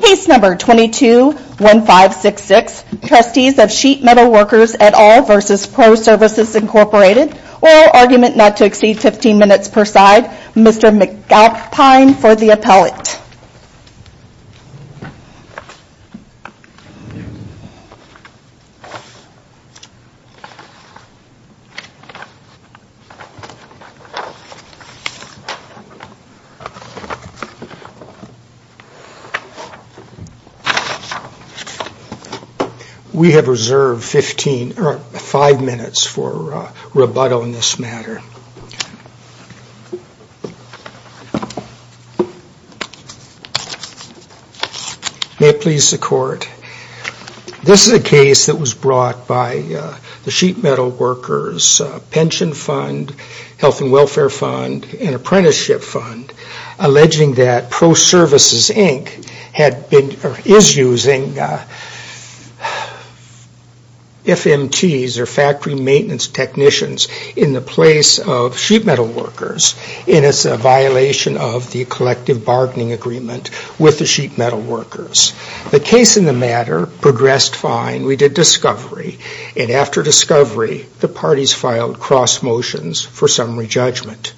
Case No. 22-1566, Trustees of Sheet Metal Workers et al. v. Pro Services Inc. Oral argument not to exceed 15 minutes per side, Mr. McAlpine for the appellate. May it please the Court, this is a case that was brought by the Sheet Metal Workers Pension Fund, Health and Welfare Fund, and Apprenticeship Fund, alleging that Pro Services Inc. is using FMTs or Factory Maintenance Technicians in the place of Sheet Metal Workers in its violation of the Collective Bargaining Agreement with the Sheet Metal Workers. The case in the matter progressed fine. We did discovery, and after discovery, the parties filed cross motions for summary judgment.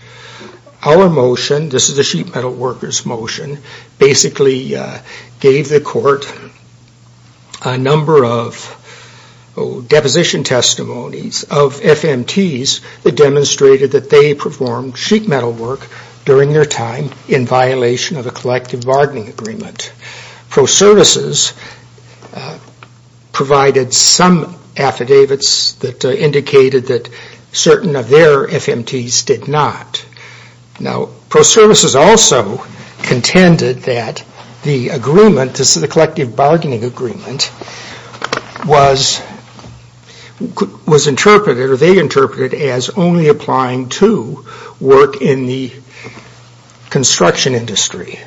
Our motion, this is the Sheet Metal Workers motion, basically gave the Court a number of deposition testimonies of FMTs that demonstrated that they performed sheet metal work during their time in violation of a Collective Bargaining Agreement. Pro Services provided some affidavits that indicated that certain of their FMTs did not. Pro Services also contended that the Collective Bargaining Agreement was interpreted, or they interpreted, as only applying to work in the construction industry.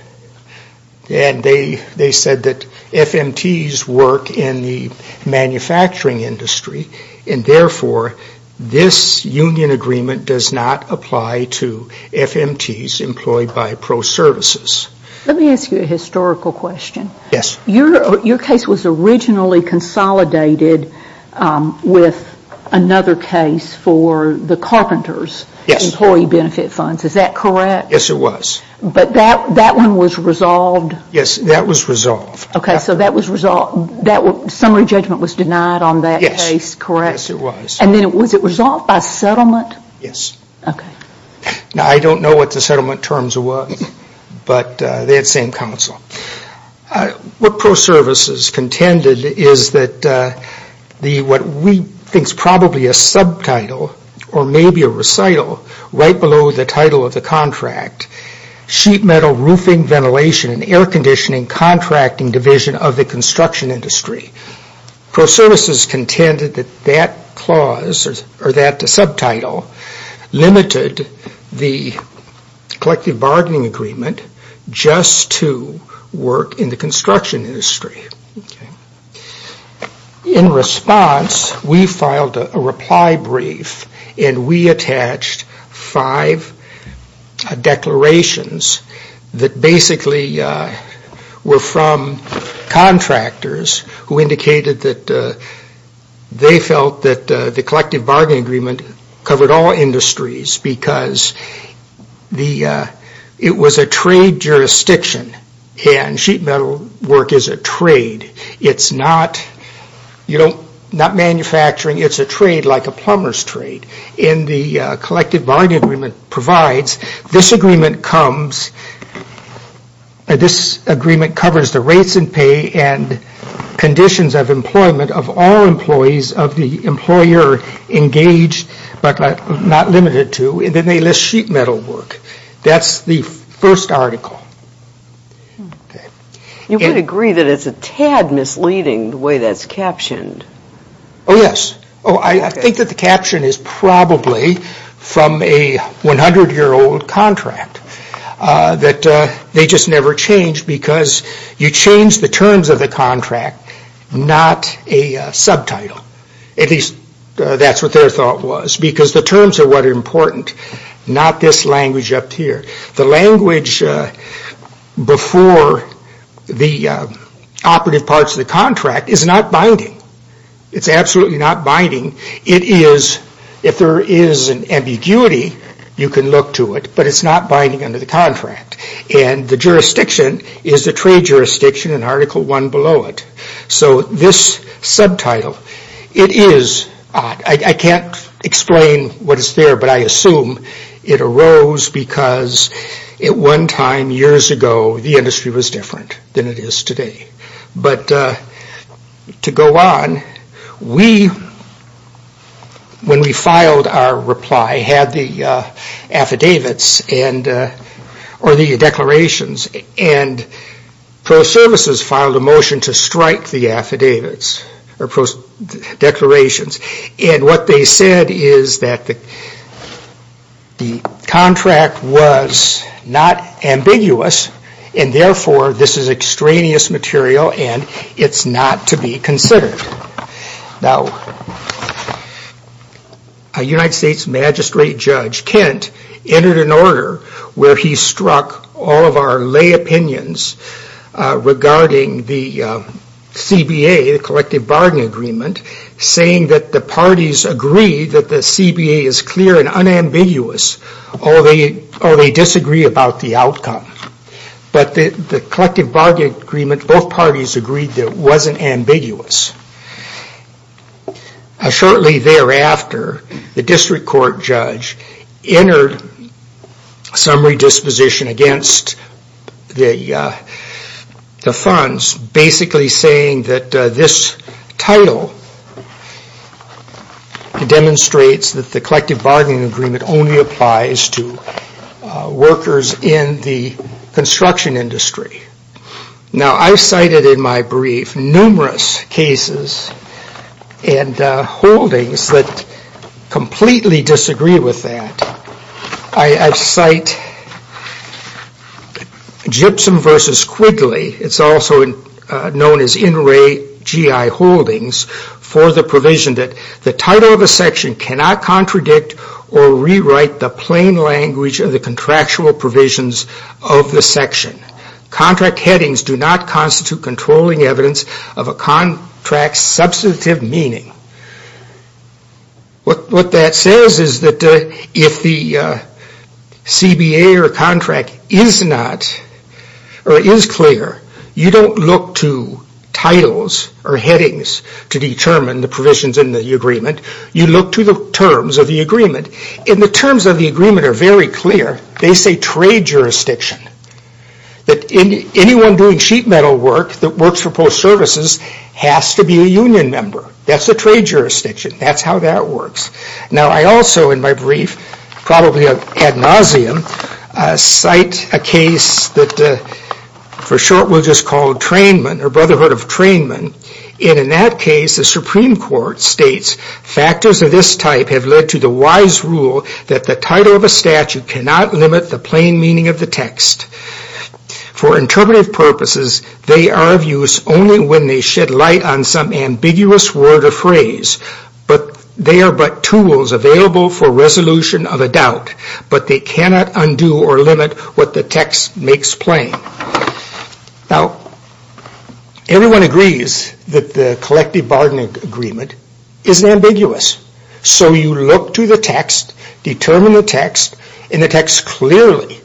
They said that FMTs work in the manufacturing industry, and therefore this union agreement does not apply to FMTs employed by Pro Services. Let me ask you a historical question. Yes. Your case was originally consolidated with another case for the Carpenters Employee Benefit Funds, is that correct? Yes, it was. But that one was resolved? Yes, that was resolved. Okay, so that summary judgment was denied on that case, correct? Yes, it was. And then was it resolved by settlement? Yes. Okay. Now, I don't know what the settlement terms were, but they had the same counsel. What Pro Services contended is that what we think is probably a subtitle, or maybe a recital, right below the title of the contract, Sheet Metal Roofing Ventilation and Air Conditioning Contracting Division of the Construction Industry. Pro Services contended that that clause, or that subtitle, limited the collective bargaining agreement just to work in the construction industry. In response, we filed a reply brief, and we attached five declarations that basically were from contractors who indicated that they felt that the collective bargaining agreement covered all industries, because it was a trade jurisdiction, and sheet metal work is a trade. It's not manufacturing. It's a trade like a plumber's trade. collective bargaining agreement provides, this agreement comes, this agreement covers the rates and pay and conditions of employment of all employees of the employer engaged, but not limited to, and then they list sheet metal work. That's the first article. You would agree that it's a tad misleading the way that's captioned. Oh, yes. I think that the caption is probably from a 100-year-old contract. They just never changed, because you change the terms of the contract, not a subtitle. At least, that's what their thought was, because the terms are what are important, not this language up here. The language before the operative parts of the contract is not binding. It's absolutely not binding. It is, if there is an ambiguity, you can look to it, but it's not binding under the contract, and the jurisdiction is the trade jurisdiction in article one below it. This subtitle, it is, I can't explain what is there, but I assume it arose because at one time years ago, the industry was different than it is today. To go on, when we filed our reply, had the affidavits or the declarations, and pro services filed a motion to strike the affidavits or pro declarations. What they said is that the contract was not ambiguous, and therefore, this is extraneous material, and it's not to be considered. Now, a United States magistrate judge, Kent, entered an order where he struck all of our lay opinions regarding the CBA, the Collective Bargain Agreement, saying that the parties agreed that the CBA is clear and unambiguous, or they disagree about the outcome. But the Collective Bargain Agreement, both parties agreed that it wasn't ambiguous. Shortly thereafter, the district court judge entered some redisposition against the funds, basically saying that this title demonstrates that the Collective Bargain Agreement only applies to workers in the construction industry. Now, I've cited in my brief numerous cases and holdings that completely disagree with that. I cite Gibson v. Quigley, it's also known as In Re GI Holdings, for the provision that the title of a section cannot contradict or rewrite the plain language of the contractual provisions of the section. Contract headings do not constitute controlling evidence of a contract's substantive meaning. What that says is that if the CBA or contract is not, or is clear, you don't look to titles or headings to determine the provisions in the agreement, you look to the terms of the agreement. And the terms of the agreement are very clear. They say trade jurisdiction, that anyone doing sheet metal work that works for post services has to be a union member. That's the trade jurisdiction. That's how that works. Now, I also, in my brief, probably ad nauseum, cite a case that, for short, we'll just call Trainman, or Brotherhood of Trainman. And in that case, the Supreme Court states, factors of this type have led to the wise rule that the title of a statute cannot limit the plain meaning of the text. For interpretive purposes, they are of use only when they shed light on some ambiguous word or phrase. They are but tools available for resolution of a doubt, but they cannot undo or limit what the text makes plain. Now, everyone agrees that the collective bargaining agreement is ambiguous. So you look to the text, determine the text, and the text clearly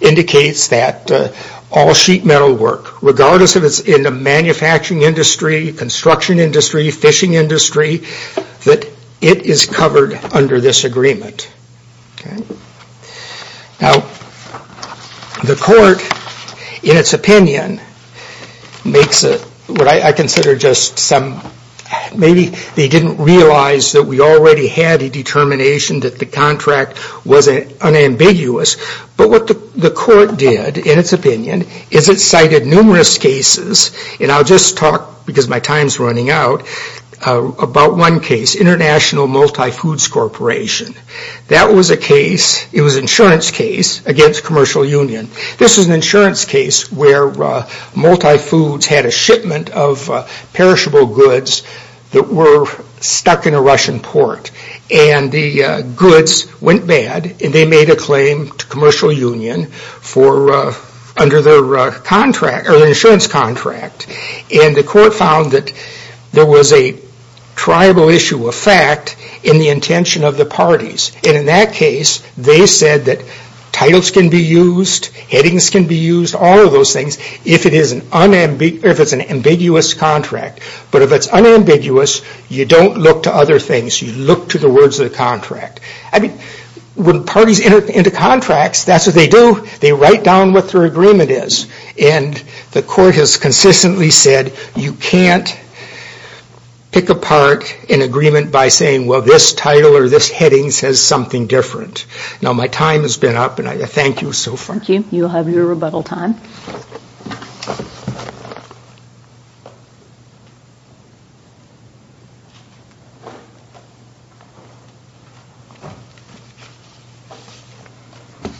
indicates that all sheet metal work, regardless if it's in the manufacturing industry, construction industry, fishing industry, that it is covered under this agreement. Now, the court, in its opinion, makes what I consider just some, maybe they didn't realize that we already had a determination that the contract was unambiguous. But what the court did, in its opinion, is it cited numerous cases, and I'll just talk, because my time's running out, about one case, International Multifoods Corporation. That was a case, it was an insurance case, against Commercial Union. This was an insurance case where Multifoods had a shipment of perishable goods that were stuck in a Russian port. And the goods went bad, and they made a claim to Commercial Union under their insurance contract. And the court found that there was a tribal issue of fact in the intention of the parties. And in that case, they said that titles can be used, headings can be used, all of those things, if it's an ambiguous contract. But if it's unambiguous, you don't look to other things. You look to the words of the contract. I mean, when parties enter into contracts, that's what they do. They write down what their agreement is. And the court has consistently said you can't pick apart an agreement by saying, well, this title or this heading says something different. Now, my time has been up, and I thank you so far. Thank you. You'll have your rebuttal time.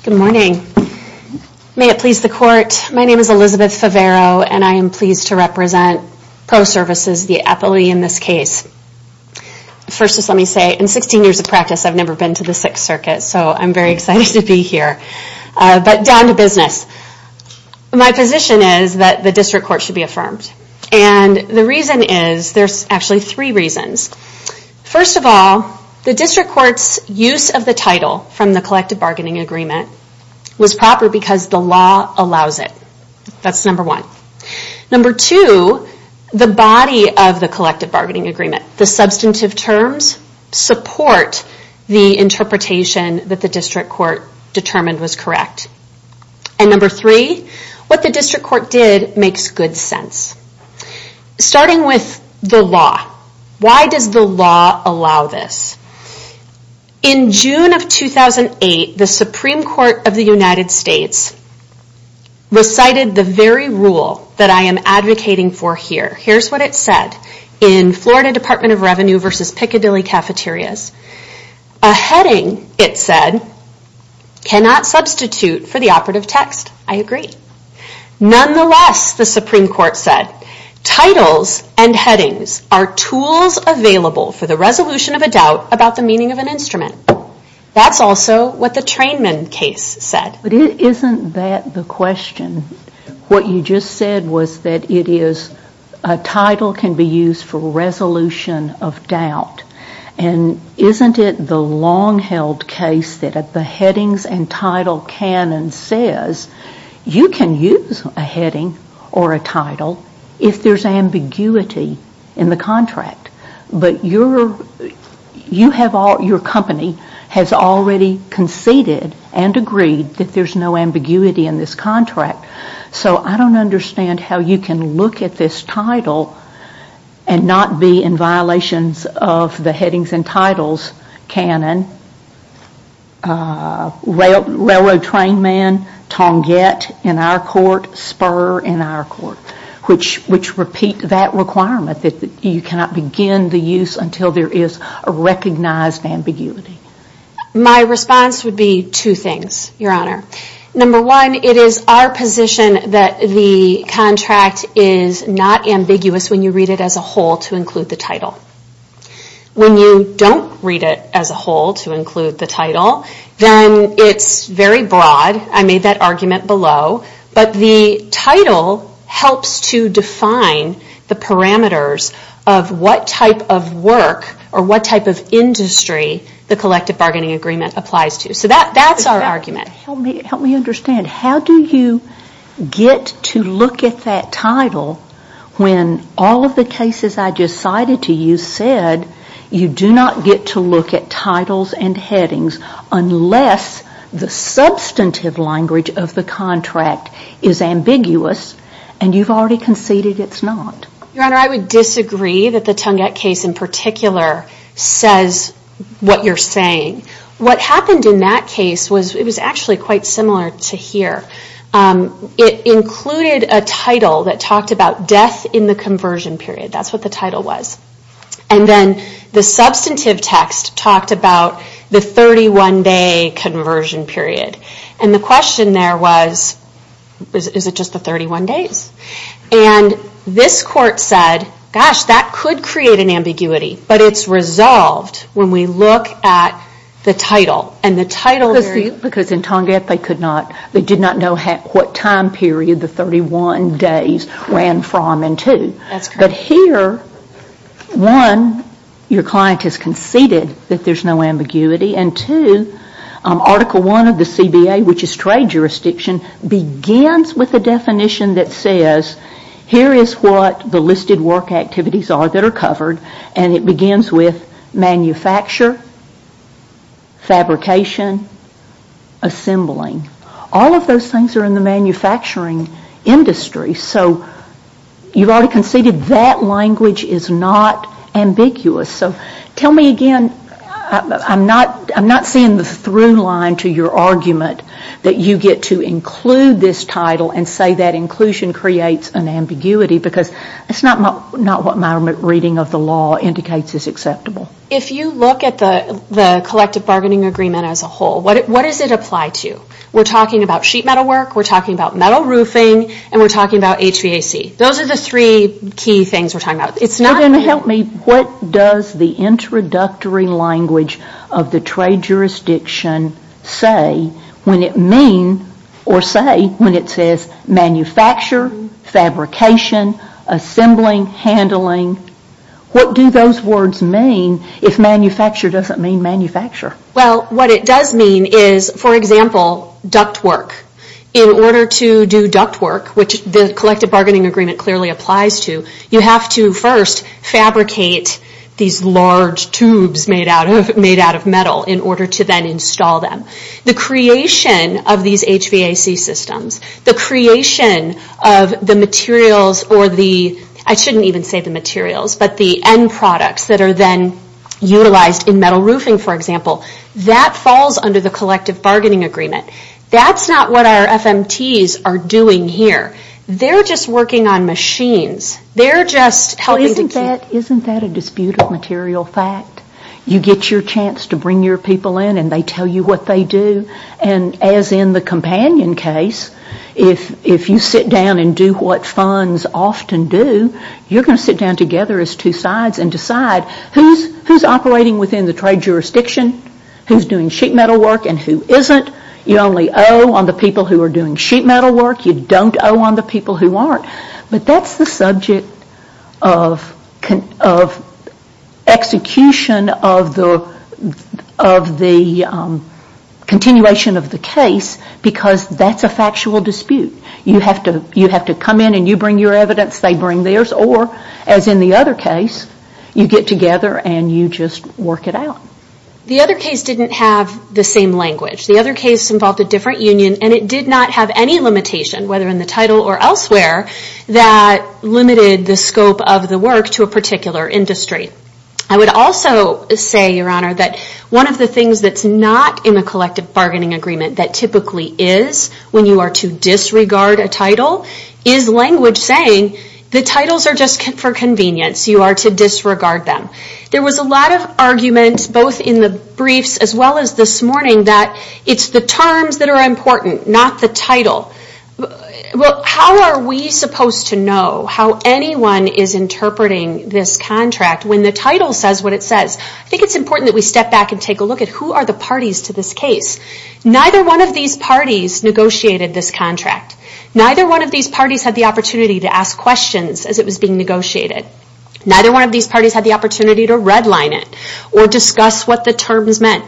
Good morning. May it please the court. My name is Elizabeth Favaro, and I am pleased to represent ProServices, the appellee in this case. First, just let me say, in 16 years of practice, I've never been to the Sixth Circuit, so I'm very excited to be here. But down to business. My position is that the district court should be affirmed. And the reason is, there's actually three reasons. First of all, the district court's use of the title from the collective bargaining agreement was proper because the law allows it. That's number one. Number two, the body of the collective bargaining agreement, the substantive terms, support the interpretation that the district court determined was correct. And number three, what the district court did makes good sense. Starting with the law. Why does the law allow this? In June of 2008, the Supreme Court of the United States recited the very rule that I am advocating for here. Here's what it said in Florida Department of Revenue v. Piccadilly Cafeterias. A heading, it said, cannot substitute for the operative text. I agree. Nonetheless, the Supreme Court said, titles and headings are tools available for the resolution of a doubt about the meaning of an instrument. That's also what the Trainman case said. But isn't that the question? What you just said was that it is a title can be used for resolution of doubt. And isn't it the long-held case that the headings and title can and says, you can use a heading or a title if there's ambiguity in the contract. But your company has already conceded and agreed that there's no ambiguity in this contract. So I don't understand how you can look at this title and not be in violations of the headings and titles canon, Railroad Trainman, Tonguet in our court, Spur in our court, which repeat that requirement that you cannot begin the use until there is a recognized ambiguity. My response would be two things, Your Honor. Number one, it is our position that the contract is not ambiguous when you read it as a whole to include the title. When you don't read it as a whole to include the title, then it's very broad. I made that argument below. But the title helps to define the parameters of what type of work or what type of industry the collective bargaining agreement applies to. So that's our argument. Help me understand. How do you get to look at that title when all of the cases I just cited to you said you do not get to look at titles and headings unless the substantive language of the contract is ambiguous and you've already conceded it's not? Your Honor, I would disagree that the Tonguet case in particular says what you're saying. What happened in that case was it was actually quite similar to here. It included a title that talked about death in the conversion period. That's what the title was. And then the substantive text talked about the 31-day conversion period. And the question there was, is it just the 31 days? And this court said, gosh, that could create an ambiguity, but it's resolved when we look at the title. Because in Tonguet they did not know what time period the 31 days ran from and to. But here, one, your client has conceded that there's no ambiguity, and two, Article I of the CBA, which is trade jurisdiction, begins with a definition that says here is what the listed work activities are that are covered and it begins with manufacture, fabrication, assembling. All of those things are in the manufacturing industry, so you've already conceded that language is not ambiguous. So tell me again, I'm not seeing the through line to your argument that you get to include this title and say that inclusion creates an ambiguity because it's not what my reading of the law indicates is acceptable. If you look at the collective bargaining agreement as a whole, what does it apply to? We're talking about sheet metal work, we're talking about metal roofing, and we're talking about HVAC. Those are the three key things we're talking about. Well, then help me, what does the introductory language of the trade jurisdiction say when it means, or say, when it says manufacture, fabrication, assembling, handling? What do those words mean if manufacture doesn't mean manufacture? Well, what it does mean is, for example, duct work. In order to do duct work, which the collective bargaining agreement clearly applies to, you have to first fabricate these large tubes made out of metal in order to then install them. The creation of these HVAC systems, the creation of the materials, or the, I shouldn't even say the materials, but the end products that are then utilized in metal roofing, for example, that falls under the collective bargaining agreement. That's not what our FMTs are doing here. They're just working on machines. They're just helping to... Isn't that a disputed material fact? You get your chance to bring your people in and they tell you what they do. And as in the companion case, if you sit down and do what funds often do, you're going to sit down together as two sides and decide who's operating within the trade jurisdiction, who's doing sheet metal work and who isn't. You only owe on the people who are doing sheet metal work. You don't owe on the people who aren't. But that's the subject of execution of the continuation of the case because that's a factual dispute. You have to come in and you bring your evidence, they bring theirs, or as in the other case, you get together and you just work it out. The other case didn't have the same language. The other case involved a different union and it did not have any limitation, whether in the title or elsewhere, that limited the scope of the work to a particular industry. I would also say, Your Honor, that one of the things that's not in a collective bargaining agreement that typically is when you are to disregard a title is language saying the titles are just for convenience, you are to disregard them. There was a lot of argument both in the briefs as well as this morning that it's the terms that are important, not the title. How are we supposed to know how anyone is interpreting this contract when the title says what it says? I think it's important that we step back and take a look at who are the parties to this case. Neither one of these parties negotiated this contract. Neither one of these parties had the opportunity to ask questions as it was being negotiated. Neither one of these parties had the opportunity to red line it or discuss what the terms meant.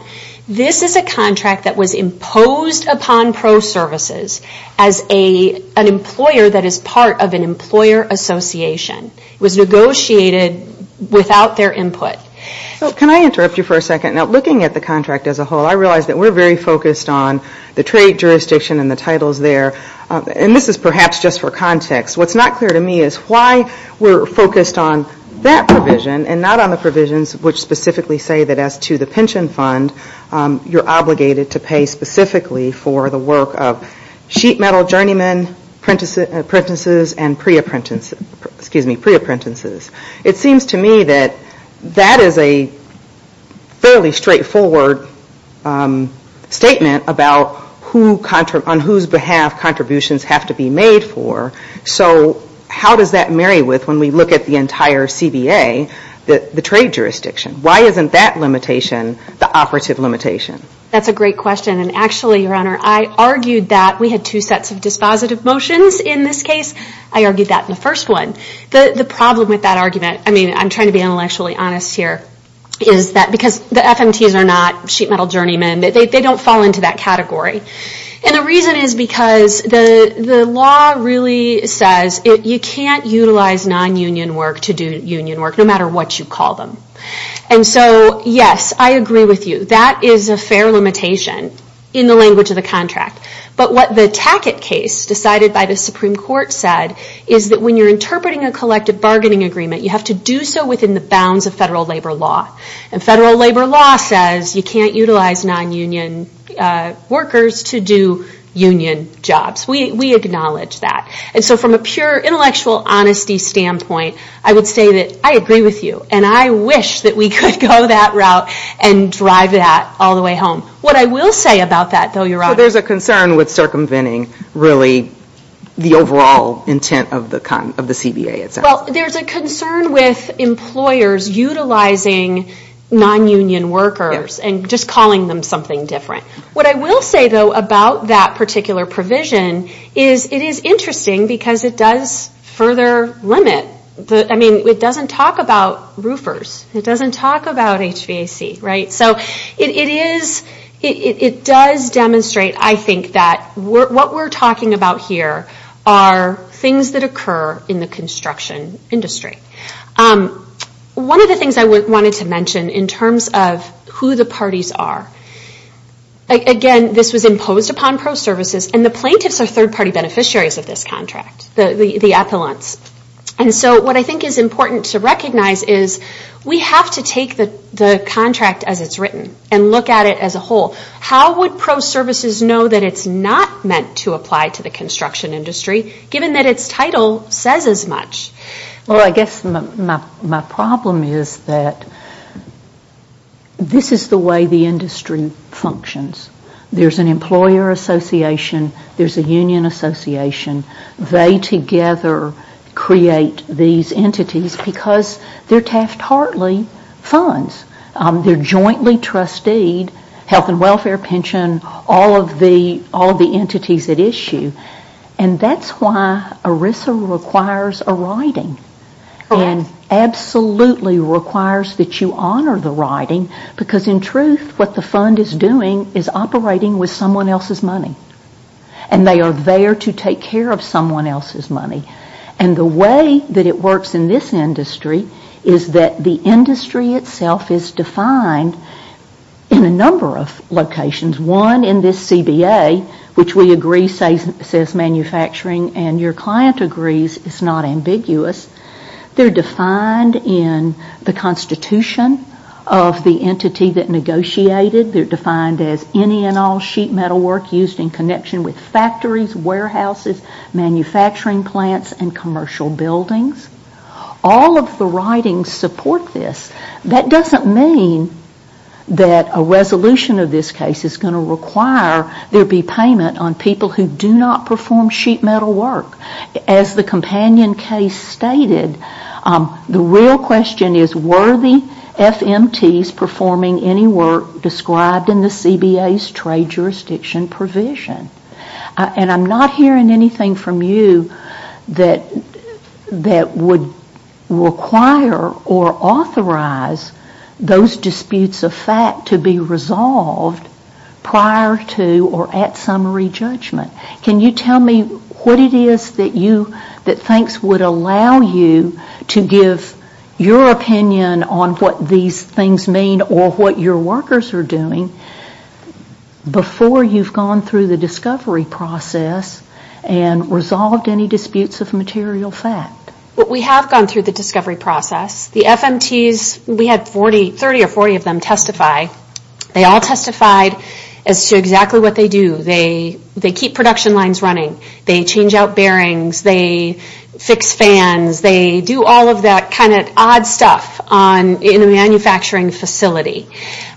This is a contract that was imposed upon ProServices as an employer that is part of an employer association. It was negotiated without their input. Can I interrupt you for a second? Looking at the contract as a whole, I realize that we are very focused on the trade jurisdiction and the titles there. This is perhaps just for context. What's not clear to me is why we are focused on that provision and not on the provisions which specifically say that as to the pension fund, you're obligated to pay specifically for the work of sheet metal journeymen, apprentices and pre-apprentices. It seems to me that that is a fairly straightforward statement about on whose behalf contributions have to be made for. How does that marry with, when we look at the entire CBA, the trade jurisdiction? Why isn't that limitation the operative limitation? That's a great question. Actually, Your Honor, I argued that we had two sets of dispositive motions in this case. I argued that in the first one. The problem with that argument, I'm trying to be intellectually honest here, is that because the FMTs are not sheet metal journeymen, they don't fall into that category. The reason is because the law really says you can't utilize non-union work to do union work, no matter what you call them. Yes, I agree with you. That is a fair limitation in the language of the contract. But what the Tackett case decided by the Supreme Court said is that when you're interpreting a collective bargaining agreement, you have to do so within the bounds of federal labor law. And federal labor law says you can't utilize non-union workers to do union jobs. We acknowledge that. And so from a pure intellectual honesty standpoint, I would say that I agree with you. And I wish that we could go that route and drive that all the way home. What I will say about that, though, Your Honor. There's a concern with circumventing, really, the overall intent of the CBA itself. Well, there's a concern with employers utilizing non-union workers and just calling them something different. What I will say, though, about that particular provision is it is interesting because it does further limit. I mean, it doesn't talk about roofers. It doesn't talk about HVAC, right? So it does demonstrate, I think, that what we're talking about here are things that occur in the construction industry. One of the things I wanted to mention in terms of who the parties are. Again, this was imposed upon pro-services, and the plaintiffs are third-party beneficiaries of this contract, the appellants. And so what I think is important to recognize is we have to take the contract as it's written and look at it as a whole. How would pro-services know that it's not meant to apply to the construction industry given that its title says as much? Well, I guess my problem is that this is the way the industry functions. There's an employer association. There's a union association. They together create these entities because they're Taft-Hartley funds. They're jointly trusteed, health and welfare, pension, all of the entities at issue. And that's why ERISA requires a writing. And absolutely requires that you honor the writing because in truth what the fund is doing is operating with someone else's money. And they are there to take care of someone else's money. And the way that it works in this industry is that the industry itself is defined in a number of locations. One, in this CBA, which we agree says manufacturing and your client agrees is not ambiguous. They're defined in the constitution of the entity that negotiated. They're defined as any and all sheet metal work used in connection with factories, warehouses, manufacturing plants, and commercial buildings. All of the writings support this. That doesn't mean that a resolution of this case is going to require there be payment on people who do not perform sheet metal work. As the companion case stated, the real question is were the FMTs performing any work described in the CBA's trade jurisdiction provision? And I'm not hearing anything from you that would require or authorize those disputes of fact to be resolved prior to or at summary judgment. Can you tell me what it is that you think would allow you to give your opinion on what these things mean or what your workers are doing before you've gone through the discovery process and resolved any disputes of material fact? We have gone through the discovery process. The FMTs, we had 30 or 40 of them testify. They all testified as to exactly what they do. They keep production lines running. They change out bearings. They fix fans. They do all of that kind of odd stuff in a manufacturing facility.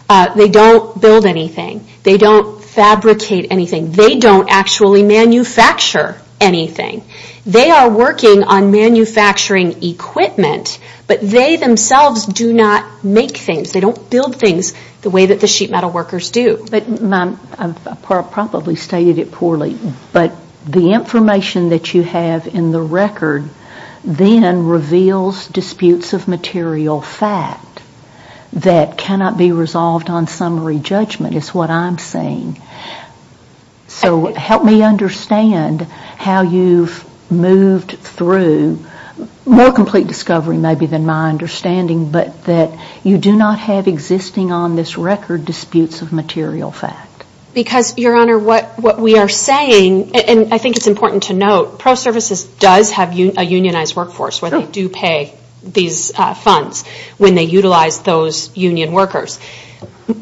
They don't build anything. They don't fabricate anything. They don't actually manufacture anything. They are working on manufacturing equipment, but they themselves do not make things. They don't build things the way that the sheet metal workers do. But I probably stated it poorly, but the information that you have in the record then reveals disputes of material fact that cannot be resolved on summary judgment is what I'm saying. So help me understand how you've moved through more complete discovery maybe than my understanding, but that you do not have existing on this record disputes of material fact. Because, Your Honor, what we are saying, and I think it's important to note, ProServices does have a unionized workforce where they do pay these funds when they utilize those union workers.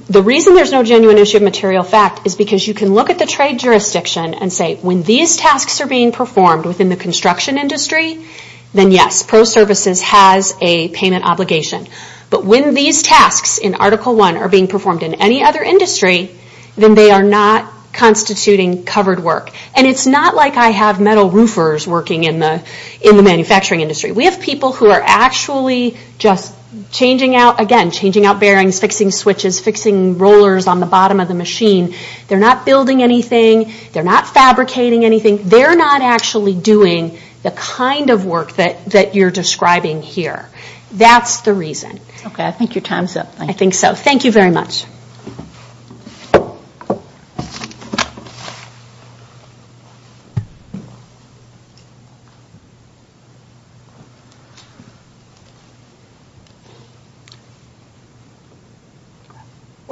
The reason there's no genuine issue of material fact is because you can look at the trade jurisdiction and say, when these tasks are being performed within the construction industry, then yes, ProServices has a payment obligation. But when these tasks in Article I are being performed in any other industry, then they are not constituting covered work. And it's not like I have metal roofers working in the manufacturing industry. We have people who are actually just changing out, again, changing out bearings, fixing switches, fixing rollers on the bottom of the machine. They're not building anything. They're not fabricating anything. They're not actually doing the kind of work that you're describing here. That's the reason. Okay. I think your time's up. I think so. Thank you very much.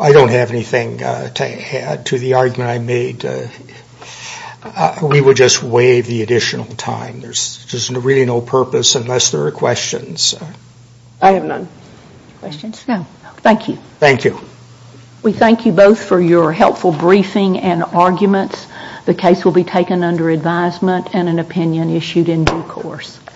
I don't have anything to add to the argument I made. We would just waive the additional time. There's really no purpose unless there are questions. I have none. Questions? No. Thank you. Thank you. We thank you both for your helpful briefing and arguments. The case will be reviewed. The case will be taken under advisement and an opinion issued in due course.